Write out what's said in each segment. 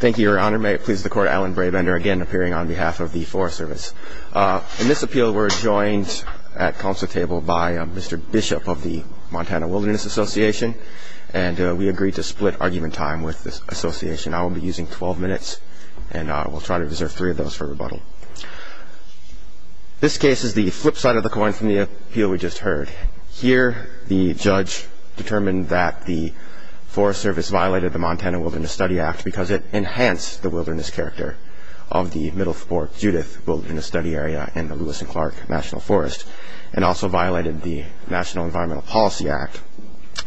Thank you, Your Honor. May it please the court, Alan Brabender again appearing on behalf of the Forest Service. In this appeal, we're joined at council table by Mr. Bishop of the Montana Wilderness Association. And we agreed to split argument time with this association. I will be using 12 minutes, and I will try to reserve three of those for rebuttal. This case is the flip side of the coin from the appeal we just heard. Here, the judge determined that the Forest Service violated the Montana Wilderness Study Act because it enhanced the wilderness character of the Middle Fork Judith Wilderness Study Area in the Lewis and Clark National Forest, and also violated the National Environmental Policy Act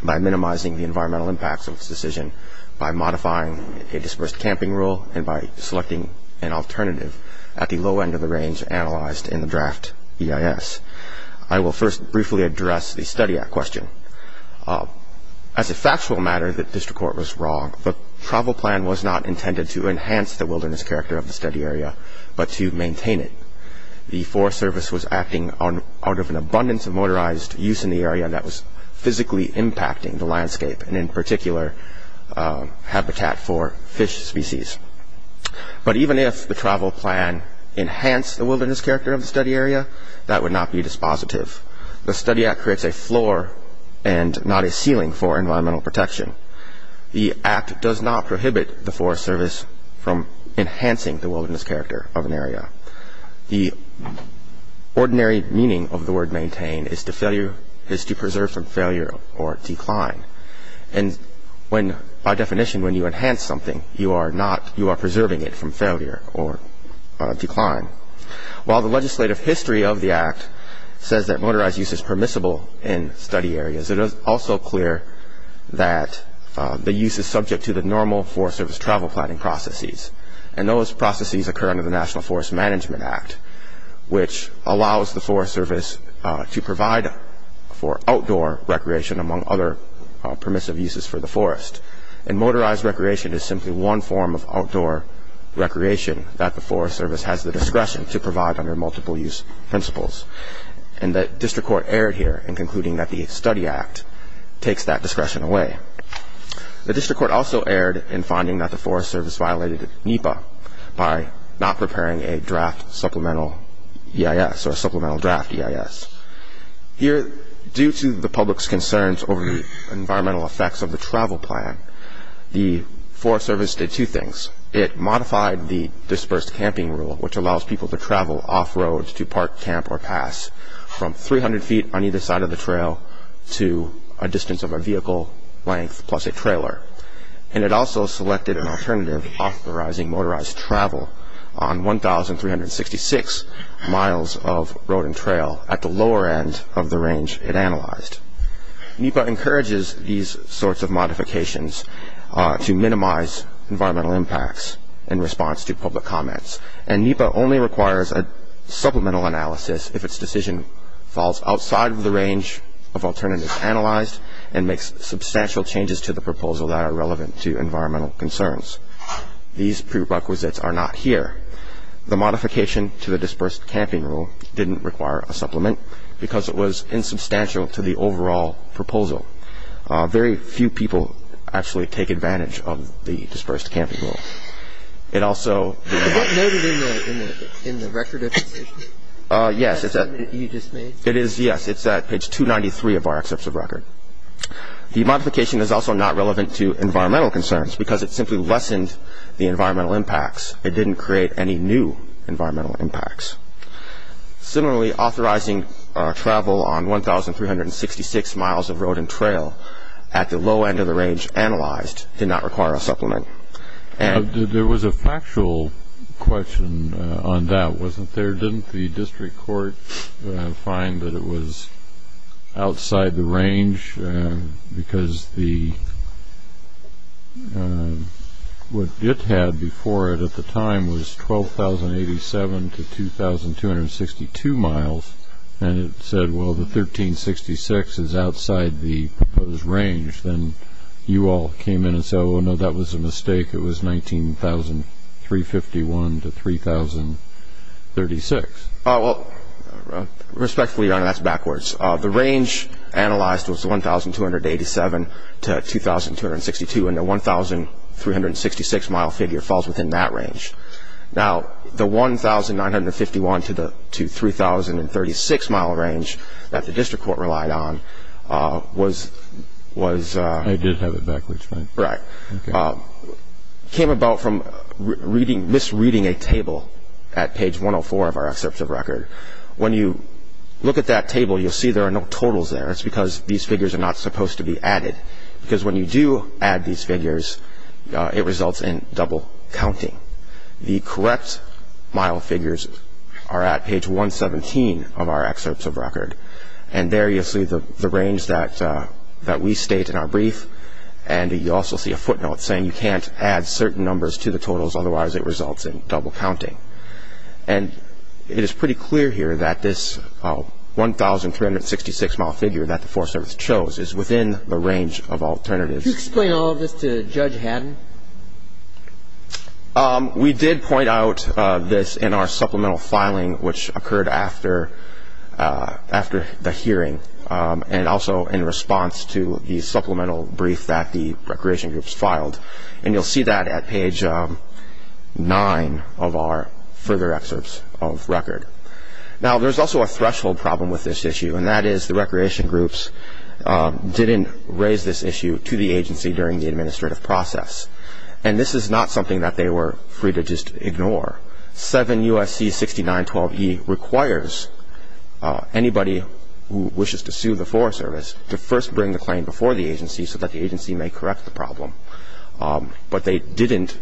by minimizing the environmental impacts of this decision by modifying a dispersed camping rule and by selecting an alternative at the low end of the range analyzed in the draft EIS. I will first briefly address the study act question. As a factual matter, the district court was wrong. The travel plan was not intended to enhance the wilderness character of the study area, but to maintain it. The Forest Service was acting out of an abundance of motorized use in the area that was physically impacting the landscape, and in particular, habitat for fish species. But even if the travel plan enhanced the wilderness character of the study area, that would not be dispositive. The study act creates a floor and not a ceiling for environmental protection. The act does not prohibit the Forest Service from enhancing the wilderness character of an area. The ordinary meaning of the word maintain is to preserve from failure or decline. And by definition, when you enhance something, you are preserving it from failure or decline. While the legislative history of the act says that motorized use is permissible in study areas, it is also clear that the use is subject to the normal Forest Service travel planning processes. And those processes occur under the National Forest Management Act, which allows the Forest Service to provide for outdoor recreation, among other permissive uses for the forest. And motorized recreation is simply one form of outdoor recreation that the Forest Service has the discretion to provide under multiple use principles. And the district court erred here in concluding that the study act takes that discretion away. The district court also erred in finding that the Forest Service violated NEPA by not preparing a draft supplemental EIS or supplemental draft EIS. Here, due to the public's concerns over the environmental effects of the travel plan, the Forest Service did two things. It modified the dispersed camping rule, which allows people to travel off roads to park, camp, or pass from 300 feet on either side of the trail to a distance of a vehicle length plus a trailer. And it also selected an alternative, authorizing motorized travel on 1,366 miles of road and trail at the lower end of the range it analyzed. NEPA encourages these sorts of modifications to minimize environmental impacts in response to public comments. And NEPA only requires a supplemental analysis if its decision falls outside of the range of alternatives analyzed and makes substantial changes to the proposal that are relevant to environmental concerns. These prerequisites are not here. The modification to the dispersed camping rule didn't require a supplement because it was insubstantial to the overall proposal. Very few people actually take advantage of the dispersed camping rule. It also- Is that noted in the record of the decision? Yes. The statement that you just made? Yes. It's at page 293 of our excerpt of record. The modification is also not relevant to environmental concerns because it simply lessened the environmental impacts. It didn't create any new environmental impacts. Similarly, authorizing travel on 1,366 miles of road and trail at the low end of the range analyzed did not require a supplement. There was a factual question on that, wasn't there? Didn't the district court find that it was outside the range because what it had before it at the time was 12,087 to 2,262 miles. And it said, well, the 1,366 is outside the proposed range. Then you all came in and said, oh, no, that was a mistake, it was 19,351 to 3,036. Well, respectfully, that's backwards. The range analyzed was 1,287 to 2,262, and the 1,366 mile figure falls within that range. Now, the 1,951 to 3,036 mile range that the district court relied on was- I did have it backwards, right? Right. Came about from misreading a table at page 104 of our excerpt of record. When you look at that table, you'll see there are no totals there. It's because these figures are not supposed to be added, because when you do add these figures, it results in double counting. The correct mile figures are at page 117 of our excerpts of record. And there you'll see the range that we state in our brief, and you also see a footnote saying you can't add certain numbers to the totals, otherwise it results in double counting. And it is pretty clear here that this 1,366 mile figure that the Forest Service chose is within the range of alternatives. Could you explain all of this to Judge Haddon? We did point out this in our supplemental filing, which occurred after the hearing, and also in response to the supplemental brief that the recreation groups filed. And you'll see that at page 9 of our further excerpts of record. Now, there's also a threshold problem with this issue, and that is the recreation groups didn't raise this issue to the agency during the administrative process. And this is not something that they were free to just ignore. 7 U.S.C. 6912E requires anybody who claimed before the agency so that the agency may correct the problem. But they didn't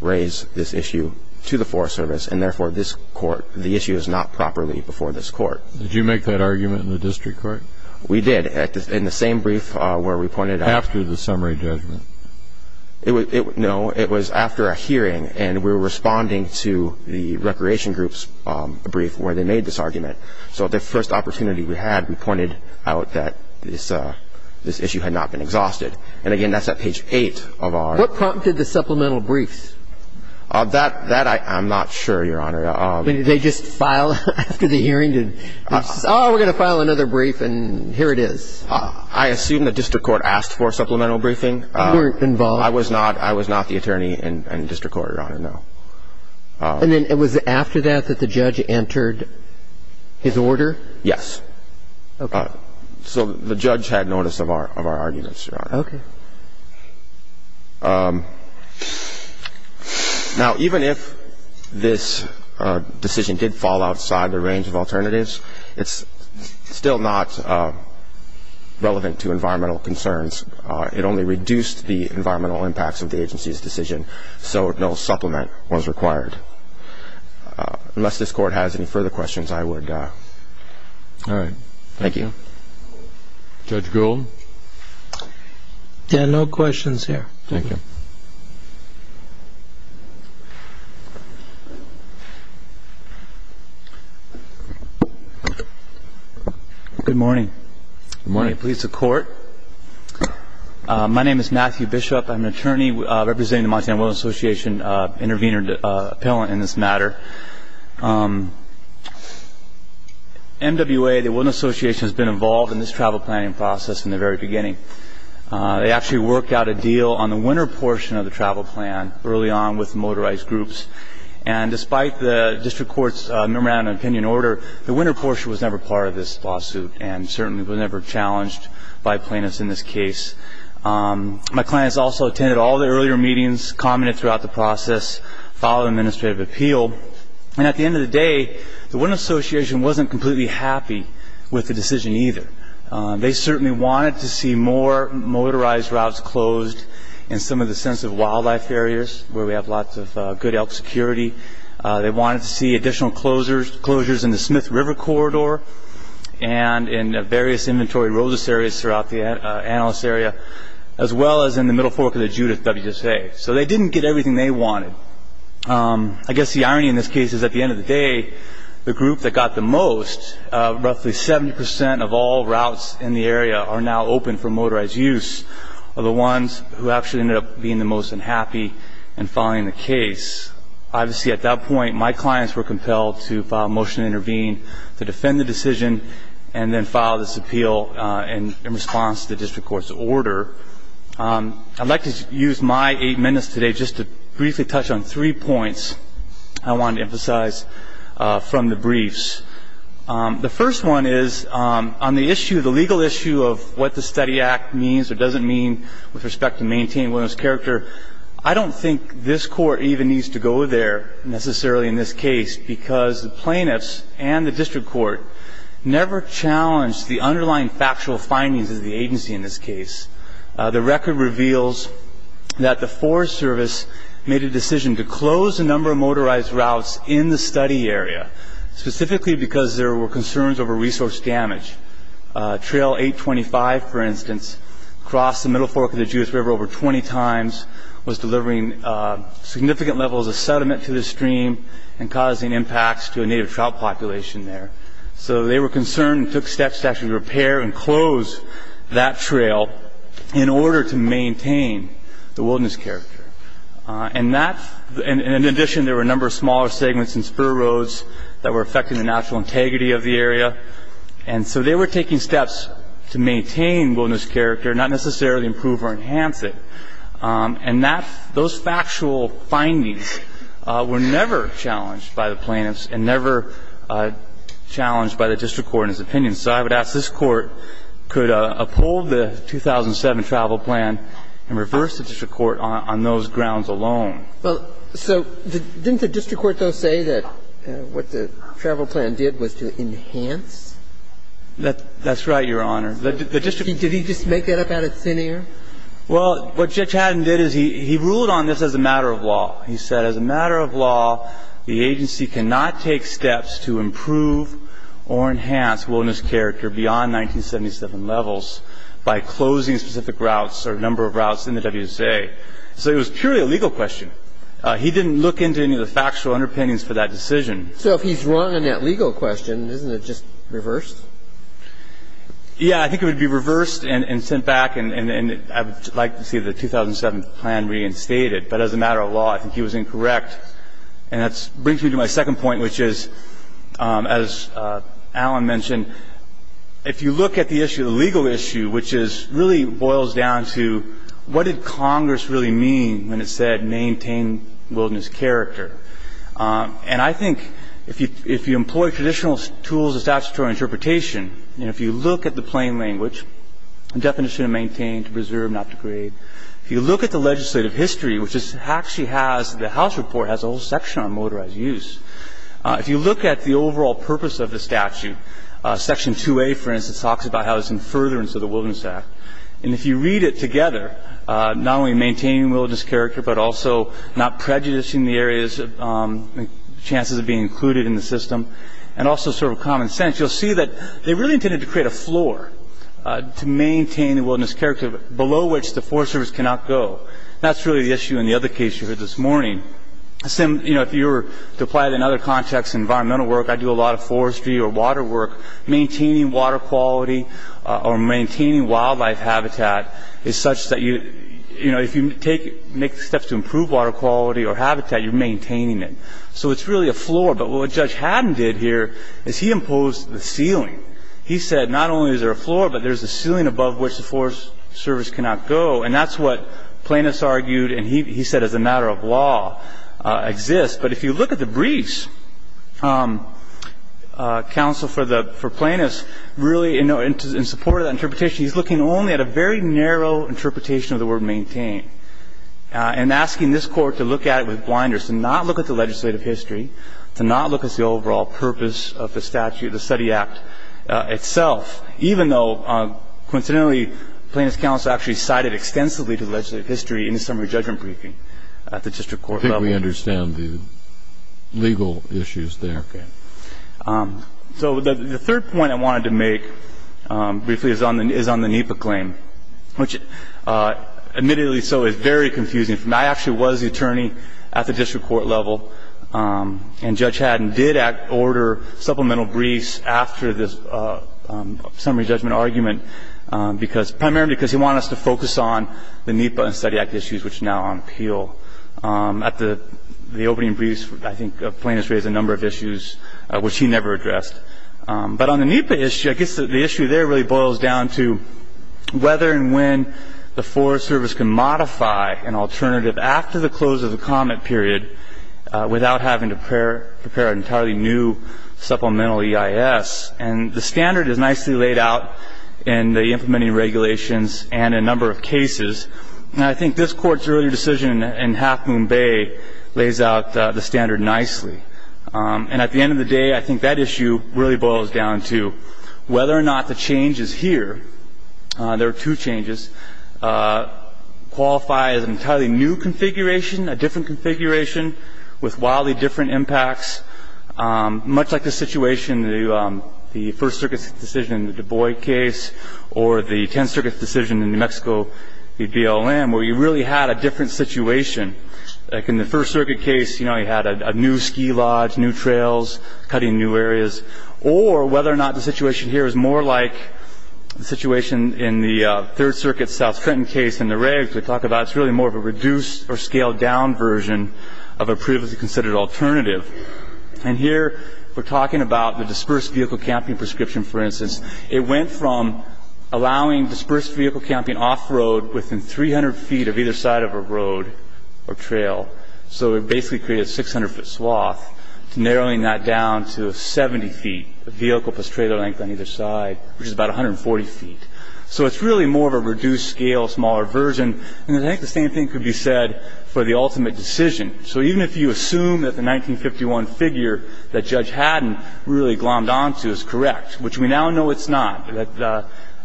raise this issue to the Forest Service, and therefore, this court, the issue is not properly before this court. Did you make that argument in the district court? We did, in the same brief where we pointed out. After the summary judgment? No, it was after a hearing, and we were responding to the recreation group's brief where they made this argument. So the first opportunity we had, we this issue had not been exhausted. And again, that's at page 8 of our. What prompted the supplemental briefs? That I'm not sure, Your Honor. Did they just file after the hearing? Did they just say, oh, we're going to file another brief, and here it is? I assume the district court asked for a supplemental briefing. You weren't involved? I was not. I was not the attorney in district court, Your Honor, no. And then it was after that that the judge entered his order? Yes. OK. So the judge had notice of our arguments, Your Honor. OK. Now, even if this decision did fall outside the range of alternatives, it's still not relevant to environmental concerns. It only reduced the environmental impacts of the agency's decision, so no supplement was required. Unless this court has any further questions, I would. All right. Thank you. Judge Golden? Yeah, no questions here. Thank you. Good morning. Good morning. May it please the court. My name is Matthew Bishop. I'm an attorney representing the Montana Wellness Association intervener appellant in this matter. MWA, the Wellness Association, has been involved in this travel planning process from the very beginning. They actually worked out a deal on the winter portion of the travel plan early on with motorized groups. And despite the district court's memorandum of opinion order, the winter portion was never part of this lawsuit and certainly was never challenged by plaintiffs in this case. My clients also attended all the earlier meetings, commented throughout the process, followed administrative appeal. And at the end of the day, the Wellness Association wasn't completely happy with the decision either. They certainly wanted to see more motorized routes closed in some of the sensitive wildlife areas where we have lots of good elk security. They wanted to see additional closures in the Smith River Corridor and in various inventory roses areas throughout the analyst area, as well as in the middle fork of the Judith WSA. So they didn't get everything they wanted. I guess the irony in this case is at the end of the day, the group that got the most, roughly 70% of all routes in the area are now open for motorized use are the ones who actually ended up being the most unhappy and filing the case. Obviously, at that point, my clients were compelled to file a motion to intervene to defend the decision and then file this appeal in response to the district court's order. I'd like to use my eight minutes today just to briefly touch on three points I want to emphasize from the briefs. The first one is on the issue, the legal issue of what the study act means or doesn't mean with respect to maintaining wellness character, I don't think this court even needs to go there necessarily in this case because the plaintiffs and the district court never challenged the underlying factual findings of the agency in this case. The record reveals that the Forest Service made a decision to close a number of motorized routes in the study area, specifically because there were concerns over resource damage. Trail 825, for instance, crossed the Middle Fork of the Jewish River over 20 times, was delivering significant levels of sediment to the stream and causing impacts to a native trout population there. So they were concerned and took steps to actually repair and close that trail in order to maintain the wilderness character. And in addition, there were a number of smaller segments and spur roads that were affecting the natural integrity of the area. And so they were taking steps to maintain wilderness character, not necessarily improve or enhance it. And those factual findings were never challenged by the plaintiffs and never challenged by the district court in his opinion. So I would ask this Court, could uphold the 2007 travel plan and reverse the district court on those grounds alone? So didn't the district court, though, say that what the travel plan did was to enhance? That's right, Your Honor. Did he just make that up out of thin air? Well, what Judge Haddon did is he ruled on this as a matter of law. He said, as a matter of law, the agency cannot take steps to improve or enhance wilderness character beyond 1977 levels by closing specific routes or a number of routes in the WSA. So it was purely a legal question. He didn't look into any of the factual underpinnings for that decision. So if he's wrong in that legal question, isn't it just reversed? Yeah, I think it would be reversed and sent back. And I would like to see the 2007 plan reinstated. But as a matter of law, I think he was incorrect. And that brings me to my second point, which is, as Alan mentioned, if you look at the issue, the legal issue, which really boils down to what did Congress really mean when it said maintain wilderness character? And I think if you employ traditional tools of statutory interpretation, and if you look at the plain language, the definition of maintain, to preserve, not degrade, if you look at the legislative history, which actually has, the House report has a whole section on motorized use. If you look at the overall purpose of the statute, section 2A, for instance, talks about how it's in furtherance of the Wilderness Act. And if you read it together, not only maintaining wilderness character, but also not prejudicing the areas, chances of being included in the system, and also sort of common sense, you'll see that they really intended to create a floor to maintain the wilderness character, below which the Forest Service cannot go. That's really the issue in the other case you heard this morning. If you were to apply it in other contexts, environmental work, I do a lot of forestry or water work. Maintaining water quality or maintaining wildlife habitat is such that if you make steps to improve water quality or habitat, you're maintaining it. So it's really a floor. But what Judge Haddon did here is he imposed the ceiling. He said not only is there a floor, but there's a ceiling above which the Forest Service cannot go. And that's what plaintiffs argued, and he said as a matter of law, exists. But if you look at the briefs, counsel for plaintiffs really, in support of that interpretation, he's looking only at a very narrow interpretation of the word maintain, and asking this court to look at it with blinders, to not look at the legislative history, to not look at the overall purpose of the statute, the Study Act itself, even though, coincidentally, plaintiffs' counsel actually cited extensively to the legislative history in the summary judgment briefing at the district court level. I think we understand the legal issues there. So the third point I wanted to make, briefly, is on the NEPA claim, which, admittedly so, is very confusing. I actually was the attorney at the district court level, and Judge Haddon did order supplemental briefs after this summary judgment argument, primarily because he wanted us to focus on the NEPA and Study Act issues, which now on appeal. At the opening briefs, I think plaintiffs raised a number of issues which he never addressed. But on the NEPA issue, I guess the issue there really boils down to whether and when the Forest Service can modify an alternative after the close of the comment period without having to prepare an entirely new supplemental EIS. And the standard is nicely laid out in the implementing regulations and a number of cases. And I think this Court's earlier decision in Half Moon Bay lays out the standard nicely. And at the end of the day, I think that issue really boils down to whether or not the changes here, there are two changes, qualify as an entirely new configuration, a different configuration with wildly different impacts, much like the situation, the First Circuit's decision in the Du Bois case, or the Tenth Circuit's decision in New Mexico, the BLM, where you really had a different situation. Like in the First Circuit case, you had a new ski lodge, new trails, cutting new areas. Or whether or not the situation here is more like the situation in the Third Circuit South Trenton case in the regs we talk about. It's really more of a reduced or scaled down version of a previously considered alternative. And here, we're talking about the dispersed vehicle camping prescription, for instance. It went from allowing dispersed vehicle camping off road within 300 feet of either side of a road or trail. So it basically created a 600 foot swath, narrowing that down to 70 feet of vehicle plus trailer length on either side, which is about 140 feet. So it's really more of a reduced scale, smaller version. And I think the same thing could be said for the ultimate decision. So even if you assume that the 1951 figure that Judge Haddon really glommed onto is correct, which we now know it's not.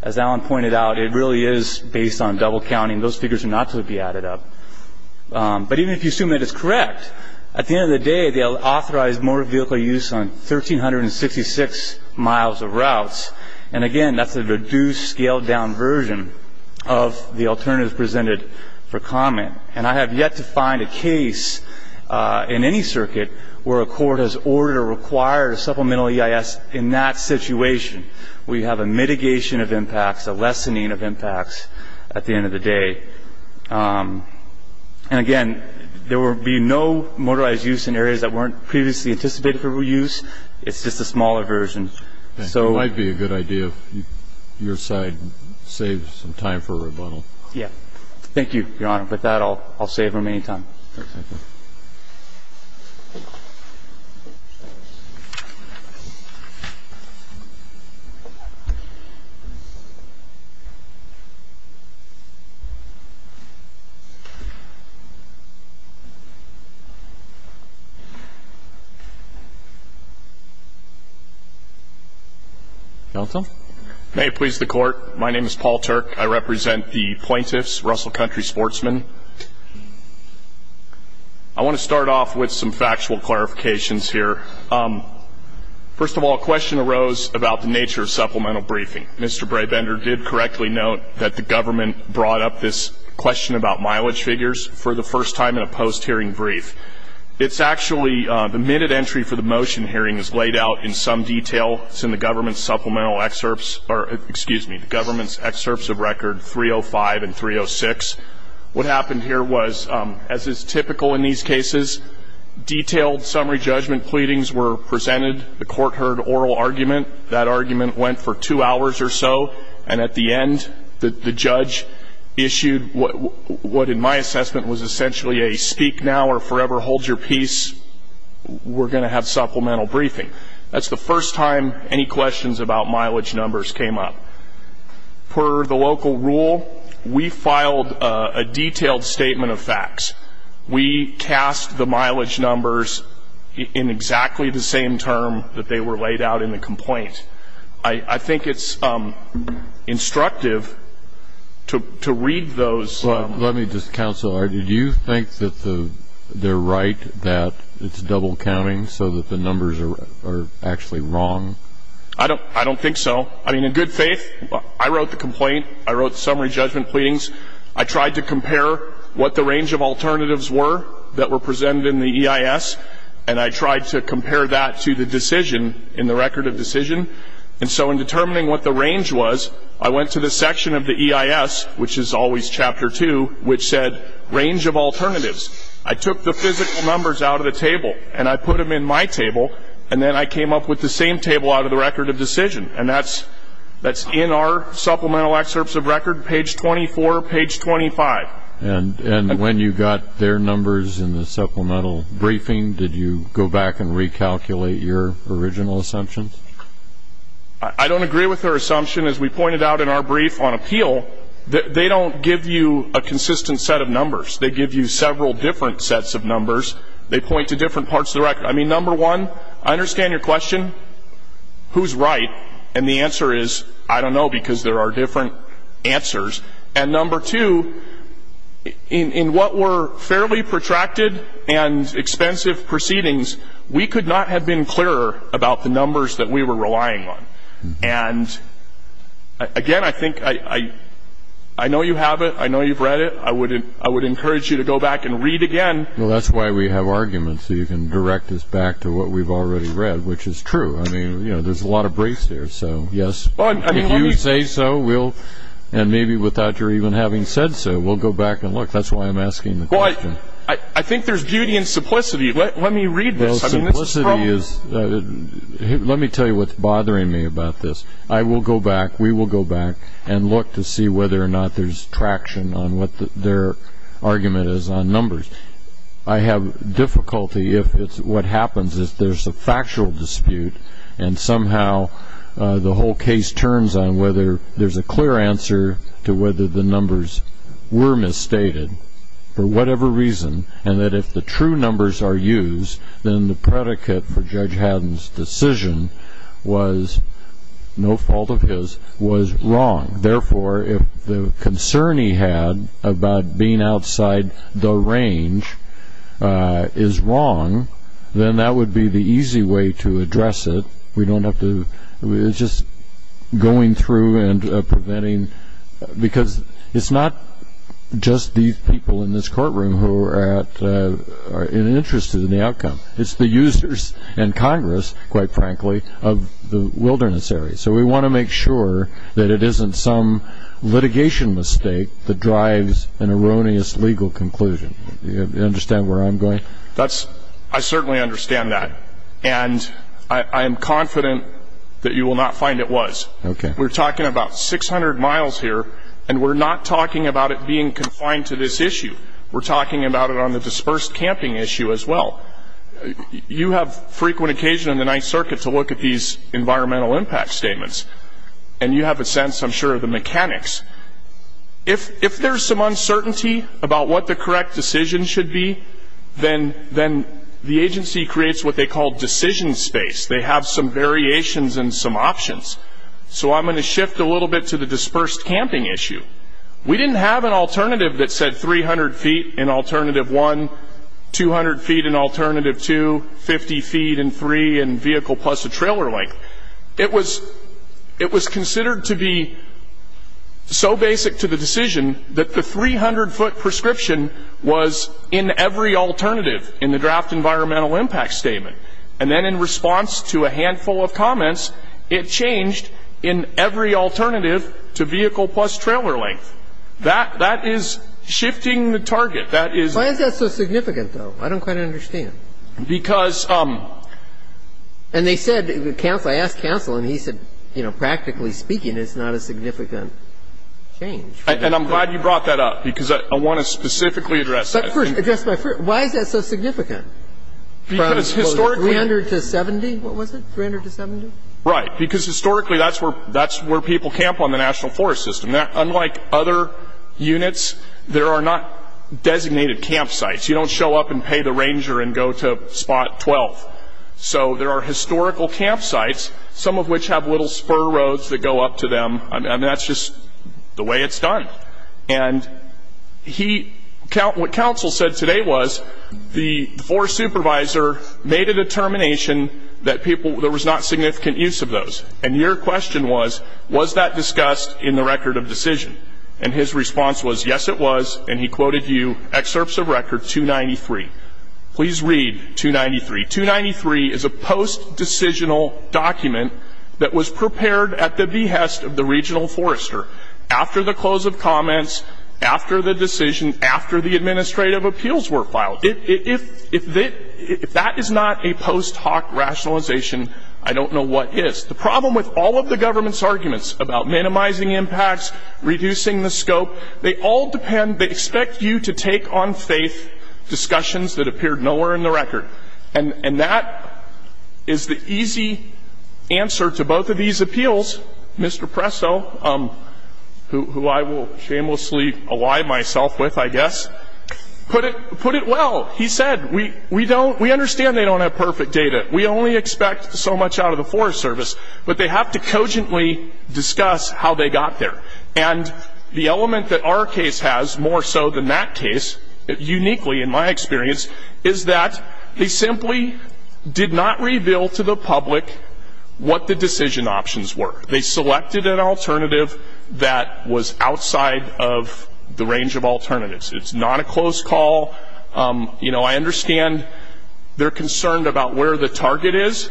As Alan pointed out, it really is based on double counting. Those figures are not to be added up. But even if you assume that it's correct, at the end of the day, they'll authorize more vehicle use on 1,366 miles of routes. And again, that's a reduced, scaled down version of the alternatives presented for comment. And I have yet to find a case in any circuit where a court has ordered or required a supplemental EIS in that situation. We have a mitigation of impacts, a lessening of impacts at the end of the day. And again, there will be no motorized use in areas that weren't previously anticipated for reuse. It's just a smaller version. So it might be a good idea if your side saves some time for a rebuttal. Yeah. Thank you, Your Honor. With that, I'll save remaining time. OK. Thank you. Counsel? May it please the Court, my name is Paul Turk. I represent the plaintiffs, Russell Country Sportsmen. I want to start off with some factual clarifications here. First of all, a question arose about the nature of supplemental briefing. Mr. Brabender did correctly note that the government brought up this question about mileage figures for the first time in a post-hearing brief. It's actually the minute entry for the motion hearing is laid out in some detail. It's in the government's supplemental excerpts, or excuse me, the government's excerpts of record 305 and 306. What happened here was, as is typical in these cases, detailed summary judgment pleadings were presented. The court heard oral argument. That argument went for two hours or so. And at the end, the judge issued what, in my assessment, was essentially a speak now or forever hold your peace. We're going to have supplemental briefing. That's the first time any questions about mileage numbers came up. Per the local rule, we filed a detailed statement of facts. We cast the mileage numbers in exactly the same term that they were laid out in the complaint. I think it's instructive to read those. Let me just counsel. Did you think that they're right, that it's double counting, so that the numbers are actually wrong? I don't think so. I mean, in good faith, I wrote the complaint. I wrote the summary judgment pleadings. I tried to compare what the range of alternatives were that were presented in the EIS. And I tried to compare that to the decision in the record of decision. And so in determining what the range was, I went to the section of the EIS, which is always chapter 2, which said range of alternatives. I took the physical numbers out of the table, and I put them in my table. And then I came up with the same table out of the record of decision. And that's in our supplemental excerpts of record, page 24, page 25. And when you got their numbers in the supplemental briefing, did you go back and recalculate your original assumptions? I don't agree with their assumption. As we pointed out in our brief on appeal, they don't give you a consistent set of numbers. They give you several different sets of numbers. They point to different parts of the record. I mean, number one, I understand your question, who's right? And the answer is, I don't know, because there are different answers. And number two, in what were fairly protracted and expensive proceedings, we could not have been clearer about the numbers that we were relying on. And again, I think I know you have it. I know you've read it. I would encourage you to go back and read again. Well, that's why we have arguments so you can direct us back to what we've already read, which is true. I mean, there's a lot of briefs here. So yes, if you say so, we'll, and maybe without your even having said so, we'll go back and look. That's why I'm asking the question. I think there's beauty in simplicity. Let me read this. I mean, this is problem. Let me tell you what's bothering me about this. I will go back, we will go back, and look to see whether or not there's traction on what their argument is on numbers. I have difficulty if it's what happens is there's a factual dispute, and somehow the whole case turns on whether there's a clear answer to whether the numbers were misstated for whatever reason, and that if the true numbers are used, then the predicate for Judge Haddon's decision was, no fault of his, was wrong. Therefore, if the concern he had about being outside the range is wrong, then that would be the easy way to address it. We don't have to, we're just going through and preventing, because it's not just these people in this courtroom who are at, are interested in the outcome. It's the users and Congress, quite frankly, of the wilderness area. So we want to make sure that it isn't some litigation mistake that drives an erroneous legal conclusion. You understand where I'm going? That's, I certainly understand that, and I am confident that you will not find it was. Okay. We're talking about 600 miles here, and we're not talking about it being confined to this issue. We're talking about it on the dispersed camping issue as well. You have frequent occasion in the Ninth Circuit to look at these environmental impact statements, and you have a sense, I'm sure, of the mechanics. If there's some uncertainty about what the correct decision should be, then the agency creates what they call decision space. They have some variations and some options. So I'm going to shift a little bit to the dispersed camping issue. We didn't have an alternative that said 300 feet in alternative one, 200 feet in alternative two, 50 feet in three, and vehicle plus a trailer length. It was considered to be so basic to the decision that the 300-foot prescription was in every alternative in the draft environmental impact statement. And then in response to a handful of comments, it changed in every alternative to vehicle plus trailer length. That is shifting the target. Why is that so significant, though? I don't quite understand. Because... And they said, I asked counsel, and he said, you know, practically speaking, it's not a significant change. And I'm glad you brought that up, because I want to specifically address that. But first, why is that so significant? Because historically... From 300 to 70, what was it, 300 to 70? Right, because historically, that's where people camp on the national forest system. Unlike other units, there are not designated campsites. You don't show up and pay the ranger and go to spot 12. So there are historical campsites, some of which have little spur roads that go up to them. I mean, that's just the way it's done. And what counsel said today was the forest supervisor made a determination that there was not significant use of those. And your question was, was that discussed in the record of decision? And his response was, yes, it was. And he quoted you excerpts of record 293. Please read 293. 293 is a post-decisional document that was prepared at the behest of the regional forester after the close of comments, after the decision, after the administrative appeals were filed. If that is not a post hoc rationalization, I don't know what is. The problem with all of the government's arguments about minimizing impacts, reducing the scope, they all depend, they expect you to take on faith discussions that appeared nowhere in the record. And that is the easy answer to both of these appeals. Mr. Presso, who I will shamelessly ally myself with, I guess, put it well. He said, we understand they don't have perfect data. We only expect so much out of the Forest Service. But they have to cogently discuss how they got there. And the element that our case has more so than that case, uniquely in my experience, is that they simply did not reveal to the public what the decision options were. They selected an alternative that was outside of the range of alternatives. It's not a close call. You know, I understand they're concerned about where the target is.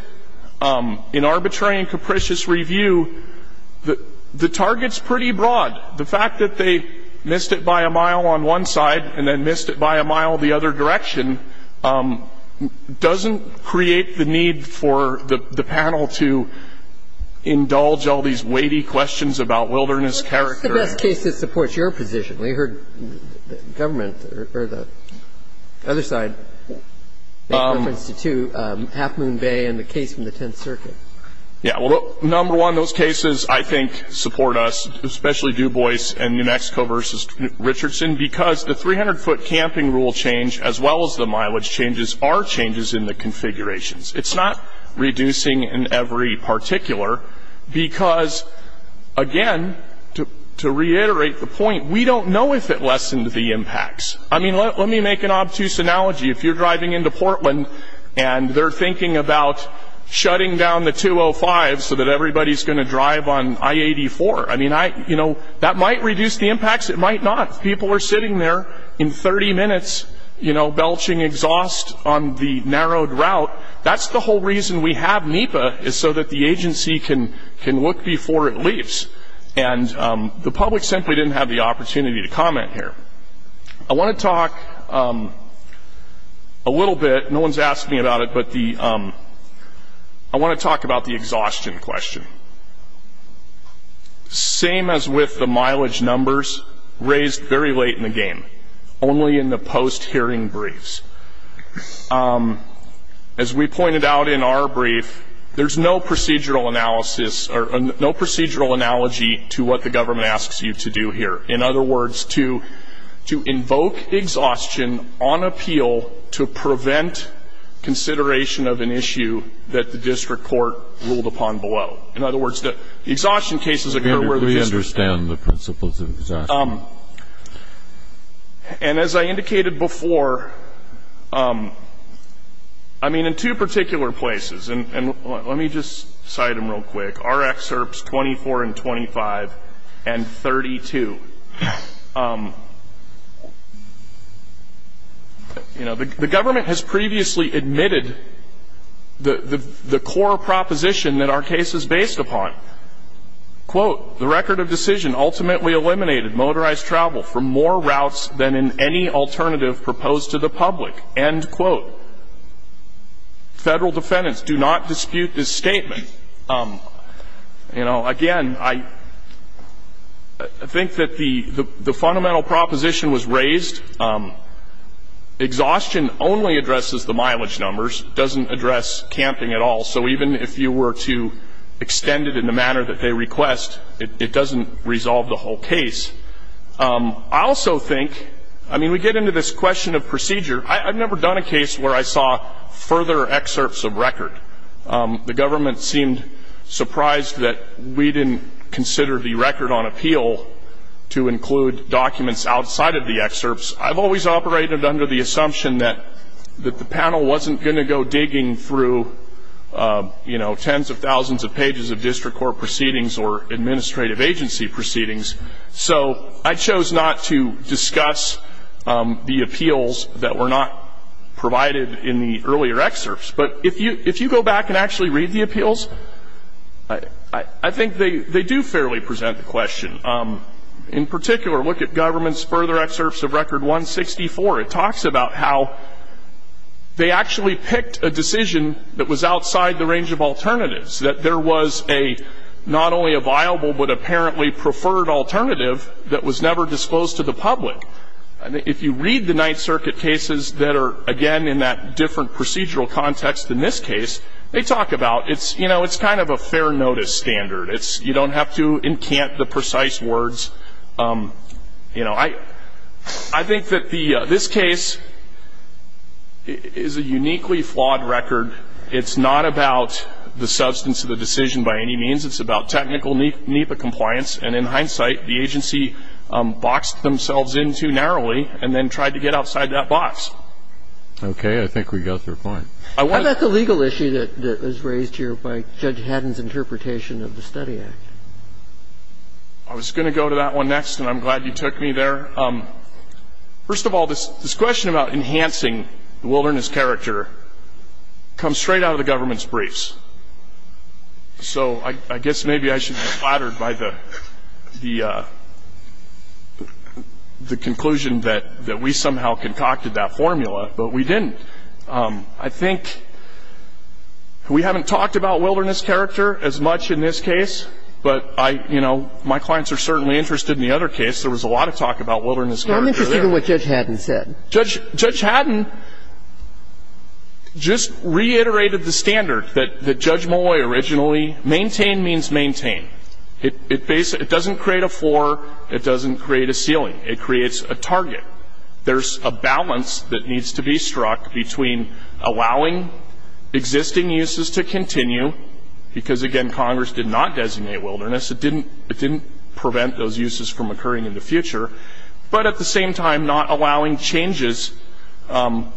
In arbitrary and capricious review, the target's pretty broad. The fact that they missed it by a mile on one side and then missed it by a mile the other direction doesn't create the need for the panel to indulge all these weighty questions about wilderness character. That's the best case that supports your position. We heard the government or the other side make reference to, too, Half Moon Bay and the case from the Tenth Circuit. Yeah. Well, number one, those cases, I think, support us, especially Dubois and New Mexico v. Richardson, because the 300-foot camping rule change, as well as the mileage changes, are changes in the configurations. It's not reducing in every particular, because, again, to reiterate the point, we don't know if it lessened the impacts. I mean, let me make an obtuse analogy. If you're driving into Portland and they're thinking about shutting down the 205 so that everybody's going to drive on I-84, I mean, you know, that might reduce the impacts. It might not. If people are sitting there in 30 minutes belching exhaust on the narrowed route, that's the whole reason we have NEPA, is so that the agency can look before it leaves. The public simply didn't have the opportunity to comment here. I want to talk a little bit, no one's asking me about it, but I want to talk about the exhaustion question. Same as with the mileage numbers raised very late in the game, only in the post-hearing briefs. As we pointed out in our brief, there's no procedural analysis or no procedural analogy to what the government asks you to do here. In other words, to invoke exhaustion on appeal to prevent consideration of an issue that the district court ruled upon below. In other words, the exhaustion cases are where we're going to understand the principles of exhaustion. And as I indicated before, I mean, in two particular places, and let me just cite them real quick, RxHerbs 24 and 25 and 32, you know, the government has previously admitted that the core proposition that our case is based upon, quote, the record of decision ultimately eliminated motorized travel from more routes than in any alternative proposed to the public, end quote. Federal defendants do not dispute this statement. You know, again, I think that the fundamental proposition was raised. Exhaustion only addresses the mileage numbers, doesn't address camping at all. So even if you were to extend it in the manner that they request, it doesn't resolve the whole case. I also think, I mean, we get into this question of procedure, I've never done a case where I saw further excerpts of record. The government seemed surprised that we didn't consider the record on appeal to include documents outside of the excerpts. I've always operated under the assumption that the panel wasn't going to go digging through, you know, tens of thousands of pages of district court proceedings or administrative agency proceedings. So I chose not to discuss the appeals that were not provided in the earlier excerpts. But if you go back and actually read the appeals, I think they do fairly present the question. In particular, look at government's further excerpts of record 164. It talks about how they actually picked a decision that was outside the range of alternatives, that there was a not only a viable but apparently preferred alternative that was never disclosed to the public. If you read the Ninth Circuit cases that are, again, in that different procedural context than this case, they talk about it's, you know, it's kind of a fair notice standard. You don't have to encamp the precise words, you know. I think that this case is a uniquely flawed record. It's not about the substance of the decision by any means. It's about technical NEPA compliance. And in hindsight, the agency boxed themselves in too narrowly and then tried to get outside that box. Okay. I think we got your point. I want to... How about the legal issue that was raised here by Judge Haddon's interpretation of the Study Act? I was going to go to that one next, and I'm glad you took me there. First of all, this question about enhancing the wilderness character comes straight out of the government's briefs. So I guess maybe I should be flattered by the conclusion that we somehow concocted that formula, but we didn't. I think we haven't talked about wilderness character as much in this case, but, you know, my clients are certainly interested in the other case. There was a lot of talk about wilderness character there. I'm interested in what Judge Haddon said. Judge Haddon just reiterated the standard that Judge Molloy originally... Maintain means maintain. It doesn't create a floor. It doesn't create a ceiling. It creates a target. There's a balance that needs to be struck between allowing existing uses to continue, because again, Congress did not designate wilderness, it didn't prevent those uses from occurring in the future, but at the same time, not allowing changes. And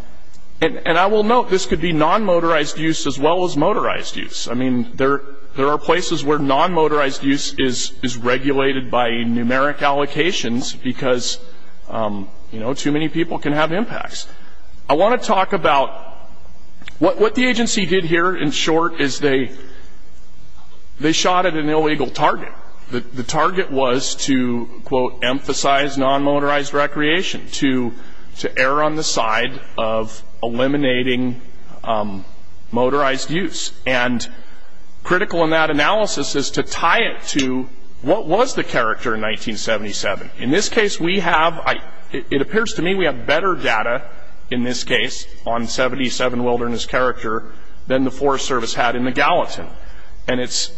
I will note, this could be non-motorized use as well as motorized use. I mean, there are places where non-motorized use is regulated by numeric allocations because too many people can have impacts. I want to talk about... What the agency did here in short is they shot at an illegal target. The target was to, quote, emphasize non-motorized recreation, to err on the side of eliminating motorized use. And critical in that analysis is to tie it to what was the character in 1977. In this case, we have... It appears to me we have better data in this case on 77 wilderness character than the Forest Service had in the Gallatin. And it's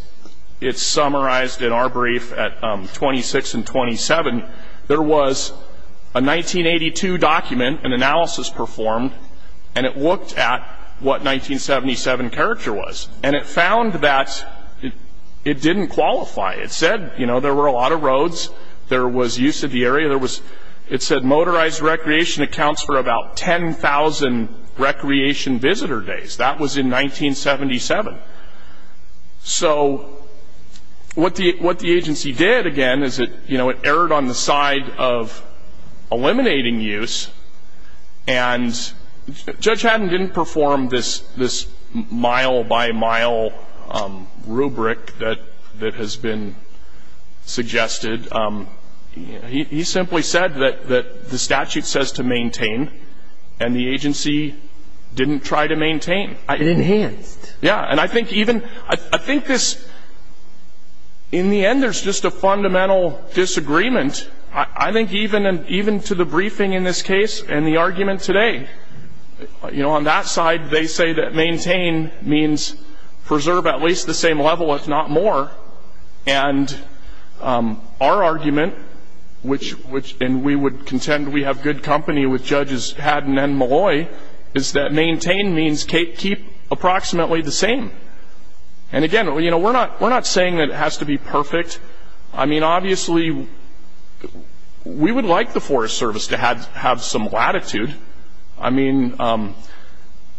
summarized in our brief at 26 and 27. There was a 1982 document, an analysis performed, and it looked at what 1977 character was. And it found that it didn't qualify. It said, you know, there were a lot of roads. There was use of the area. It said motorized recreation accounts for about 10,000 recreation visitor days. That was in 1977. So what the agency did, again, is it erred on the side of eliminating use. And Judge Haddon didn't perform this mile-by-mile rubric that has been suggested. He simply said that the statute says to maintain, and the agency didn't try to maintain. It enhanced. Yeah. And I think even... I think this... In the end, there's just a fundamental disagreement. I think even to the briefing in this case and the argument today, you know, on that side, they say that maintain means preserve at least the same level, if not more. And our argument, which... And we would contend we have good company with Judges Haddon and Malloy, is that maintain means keep approximately the same. And again, you know, we're not saying that it has to be perfect. I mean, obviously, we would like the Forest Service to have some latitude. I mean,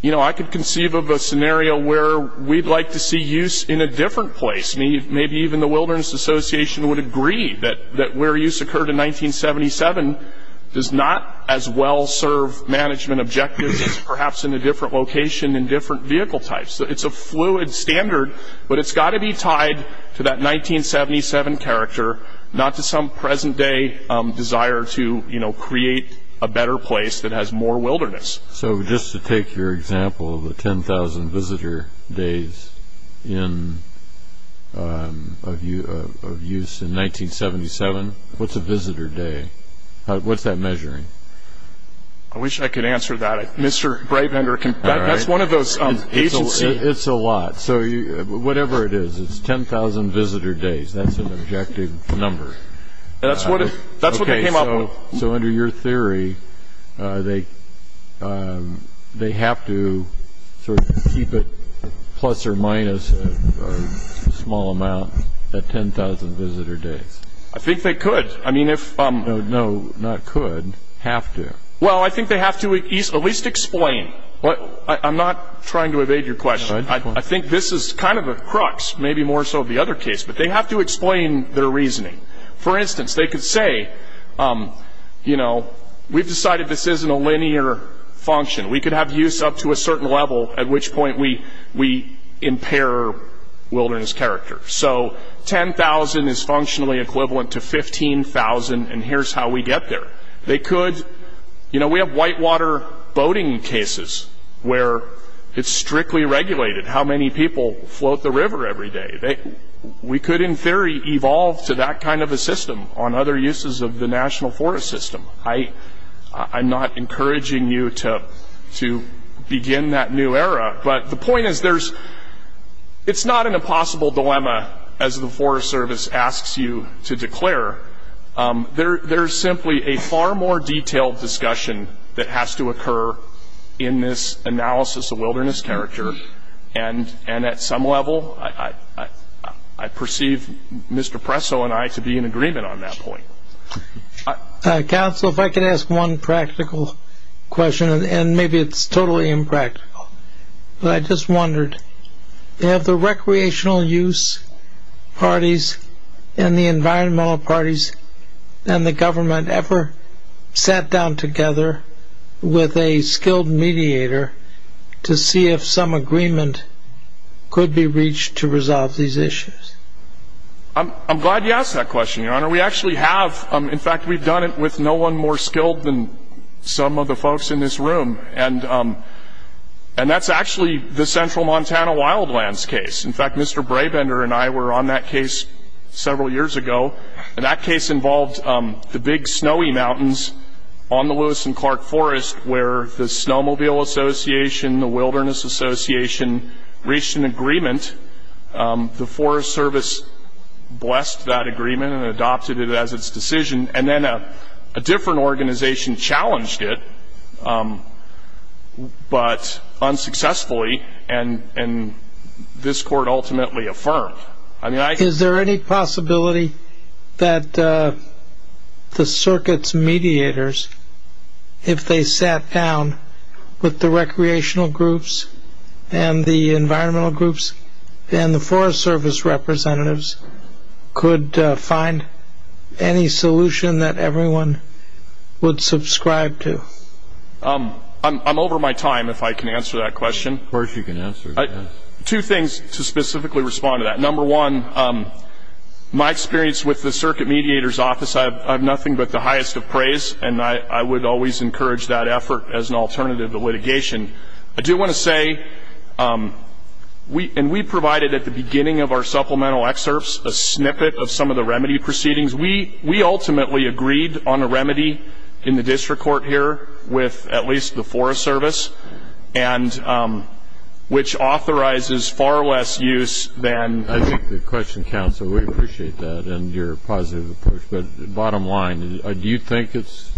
you know, I could conceive of a scenario where we'd like to see use in a different place. Maybe even the Wilderness Association would agree that where use occurred in 1977 does not as well serve management objectives as perhaps in a different location in different vehicle types. It's a fluid standard, but it's got to be tied to that 1977 character, not to some present-day desire to, you know, create a better place that has more wilderness. So just to take your example of the 10,000 visitor days of use in 1977, what's a visitor day? What's that measuring? I wish I could answer that. Mr. Breitbender can... That's one of those agencies... It's a lot. So whatever it is, it's 10,000 visitor days. That's an objective number. That's what it came up with. So under your theory, they have to sort of keep it plus or minus a small amount at 10,000 visitor days. I think they could. I mean, if... No, not could. Have to. Well, I think they have to at least explain. I'm not trying to evade your question. I think this is kind of a crux, maybe more so of the other case, but they have to explain their reasoning. For instance, they could say, you know, we've decided this isn't a linear function. We could have use up to a certain level, at which point we impair wilderness character. So 10,000 is functionally equivalent to 15,000, and here's how we get there. They could... You know, we have whitewater boating cases where it's strictly regulated how many people float the river every day. We could, in theory, evolve to that kind of a system on other uses of the National Forest System. I'm not encouraging you to begin that new era, but the point is there's... It's not an impossible dilemma, as the Forest Service asks you to declare. There's simply a far more detailed discussion that has to occur in this analysis of wilderness character, and at some level, I perceive Mr. Presso and I to be in agreement on that point. Council, if I could ask one practical question, and maybe it's totally impractical, but I just wondered, have the recreational use parties and the environmental parties and the government ever sat down together with a skilled mediator to see if some agreement could be reached to resolve these issues? I'm glad you asked that question, Your Honor. We actually have. In fact, we've done it with no one more skilled than some of the folks in this room, and that's actually the Central Montana Wildlands case. In fact, Mr. Brabender and I were on that case several years ago, and that case involved the big snowy mountains on the Lewis and Clark Forest, where the Snowmobile Association, the Wilderness Association reached an agreement. The Forest Service blessed that agreement and adopted it as its decision, and then a successfully, and this court ultimately affirmed. Is there any possibility that the circuit's mediators, if they sat down with the recreational groups and the environmental groups and the Forest Service representatives, could find any solution that everyone would subscribe to? I'm over my time, if I can answer that question. Of course you can answer it. Two things to specifically respond to that. Number one, my experience with the circuit mediator's office, I have nothing but the highest of praise, and I would always encourage that effort as an alternative to litigation. I do want to say, and we provided at the beginning of our supplemental excerpts a snippet of some of the remedy proceedings. We ultimately agreed on a remedy in the district court here with at least the Forest Service, which authorizes far less use than- I think the question counts, so we appreciate that and your positive approach, but bottom line, do you think it's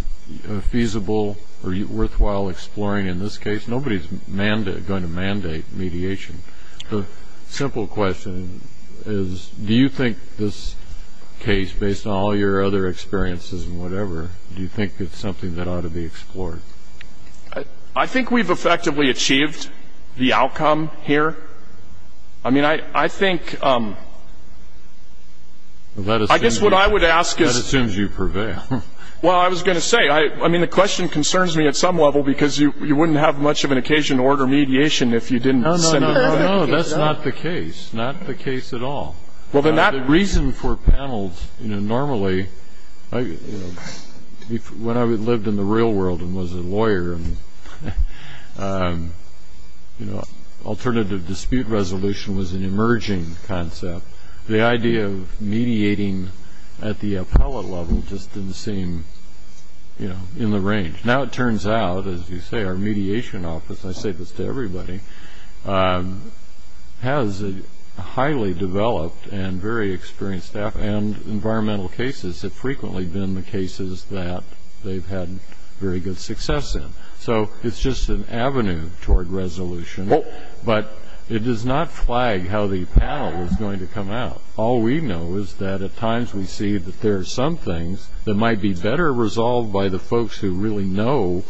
feasible or worthwhile exploring in this case? Nobody's going to mandate mediation. The simple question is, do you think this case, based on all your other experiences and whatever, do you think it's something that ought to be explored? I think we've effectively achieved the outcome here. I mean, I think- Well, that assumes- I guess what I would ask is- That assumes you prevail. Well, I was going to say, I mean, the question concerns me at some level because you wouldn't have much of an occasion to order mediation if you didn't send another case out. No, no, no, no. That's not the case. Not the case at all. Well, then that- The reason for panels, you know, normally, when I lived in the real world and was a lawyer and, you know, alternative dispute resolution was an emerging concept, the idea of mediating at the appellate level just didn't seem, you know, in the range. Now it turns out, as you say, our mediation office, and I say this to everybody, has a highly developed and very experienced staff and environmental cases have frequently been the cases that they've had very good success in. So it's just an avenue toward resolution, but it does not flag how the panel is going to come out. All we know is that at times we see that there are some things that might be better resolved by the folks who really know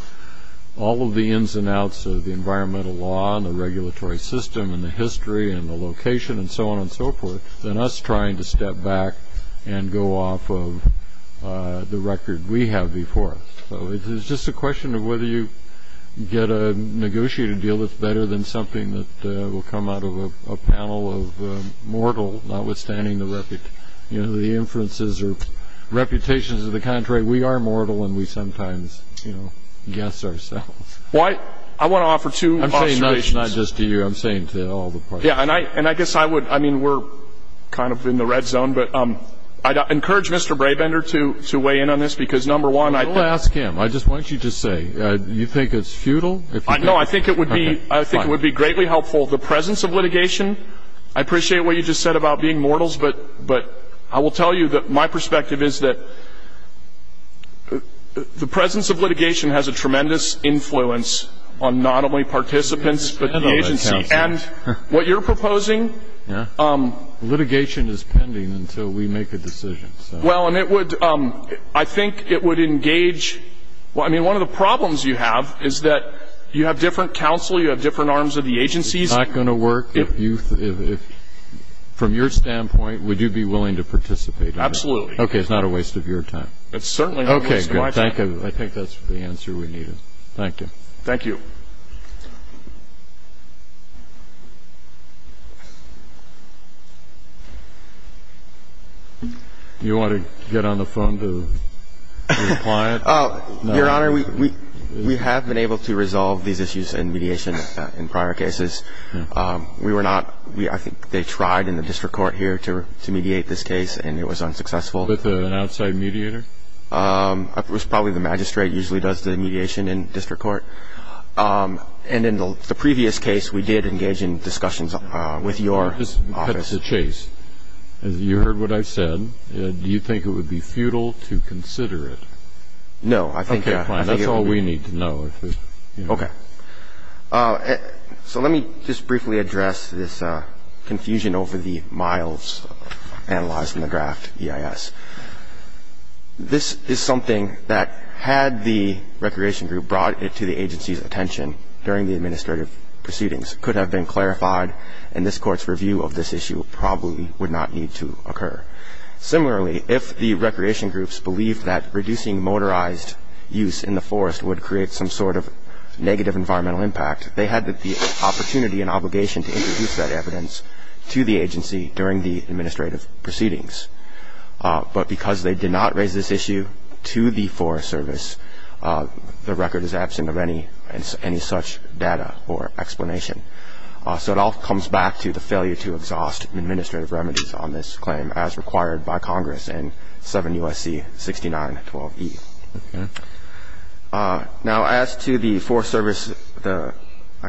all of the ins and outs of the environmental law and the regulatory system and the history and the location and so on and so forth than us trying to step back and go off of the record we have before us. So it's just a question of whether you get a negotiated deal that's better than something that will come out of a panel of mortal, notwithstanding the, you know, the inferences or reputations of the contrary, we are mortal and we sometimes, you know, guess ourselves. Well, I want to offer two observations. I'm saying this not just to you, I'm saying to all the parties. Yeah, and I guess I would, I mean, we're kind of in the red zone, but I'd encourage Mr. Brabender to weigh in on this because, number one, I think... Don't ask him, I just want you to say, do you think it's futile, if you do? No, I think it would be greatly helpful. The presence of litigation, I appreciate what you just said about being mortals, but I will tell you that my perspective is that the presence of litigation has a tremendous influence on not only participants, but the agency, and what you're proposing... Litigation is pending until we make a decision, so... Well, and it would, I think it would engage, well, I mean, one of the problems you have is that you have different counsel, you have different arms of the agencies. It's not going to work if you, if, from your standpoint, would you be willing to participate? Absolutely. Okay, it's not a waste of your time. It's certainly not a waste of my time. Okay, good, thank you. I think that's the answer we needed. Thank you. Thank you. You want to get on the phone to reply? Your Honor, we have been able to resolve these issues in mediation in prior cases. We were not, I think they tried in the district court here to mediate this case, and it was unsuccessful. With an outside mediator? It was probably the magistrate usually does the mediation in district court. And in the previous case, we did engage in discussions with your office. Let me just cut to the chase. You heard what I said. Do you think it would be futile to consider it? No, I think that's all we need to know. Okay. So let me just briefly address this confusion over the miles analyzed in the draft EIS. This is something that, had the recreation group brought it to the agency's attention during the administrative proceedings, could have been clarified, and this court's review of this issue probably would not need to occur. Similarly, if the recreation groups believed that reducing motorized use in the forest would create some sort of negative environmental impact, they had the opportunity and obligation to introduce that evidence to the agency during the administrative proceedings. But because they did not raise this issue to the Forest Service, the record is absent of any such data or explanation. So it all comes back to the failure to exhaust administrative remedies on this claim as required by Congress in 7 U.S.C. 6912E. Now, as to the Forest Service, I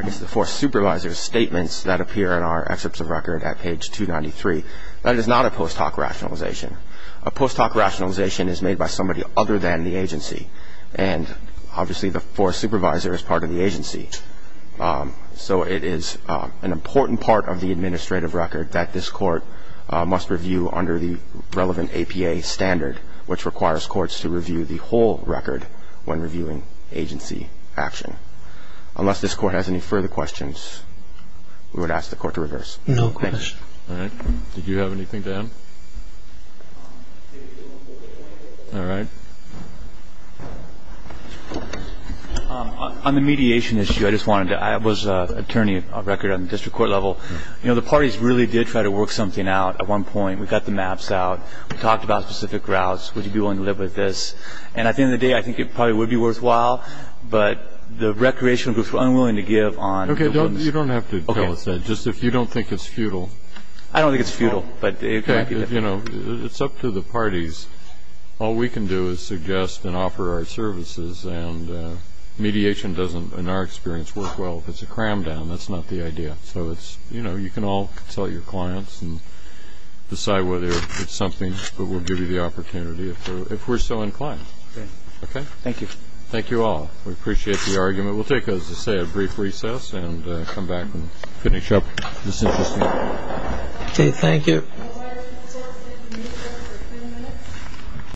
guess the Forest Supervisor's statements that appear in our excerpts of record at page 293, that is not a post hoc rationalization. A post hoc rationalization is made by somebody other than the agency. And obviously, the Forest Supervisor is part of the agency. So it is an important part of the administrative record that this court must review under the relevant APA standard, which requires courts to review the whole record when reviewing agency action. Unless this court has any further questions, we would ask the court to reverse. No questions. All right. Did you have anything to add? All right. On the mediation issue, I just wanted to, I was an attorney of record on the district court level. You know, the parties really did try to work something out at one point. We got the maps out. We talked about specific routes. Would you be willing to live with this? And at the end of the day, I think it probably would be worthwhile. But the recreational groups were unwilling to give on the ones. Okay. You don't have to tell us that. Just if you don't think it's futile. I don't think it's futile. But it could be. You know, it's up to the parties. All we can do is suggest and offer our services. And mediation doesn't, in our experience, work well. If it's a cram down, that's not the idea. So it's, you know, you can all consult your clients and decide whether it's something that will give you the opportunity if we're so inclined. Okay. Okay. Thank you. Thank you all. We appreciate the argument. We'll take, as I say, a brief recess and come back and finish up. This is interesting. Okay. Thank you. All right. We'll take a short break. We'll be back in a few minutes.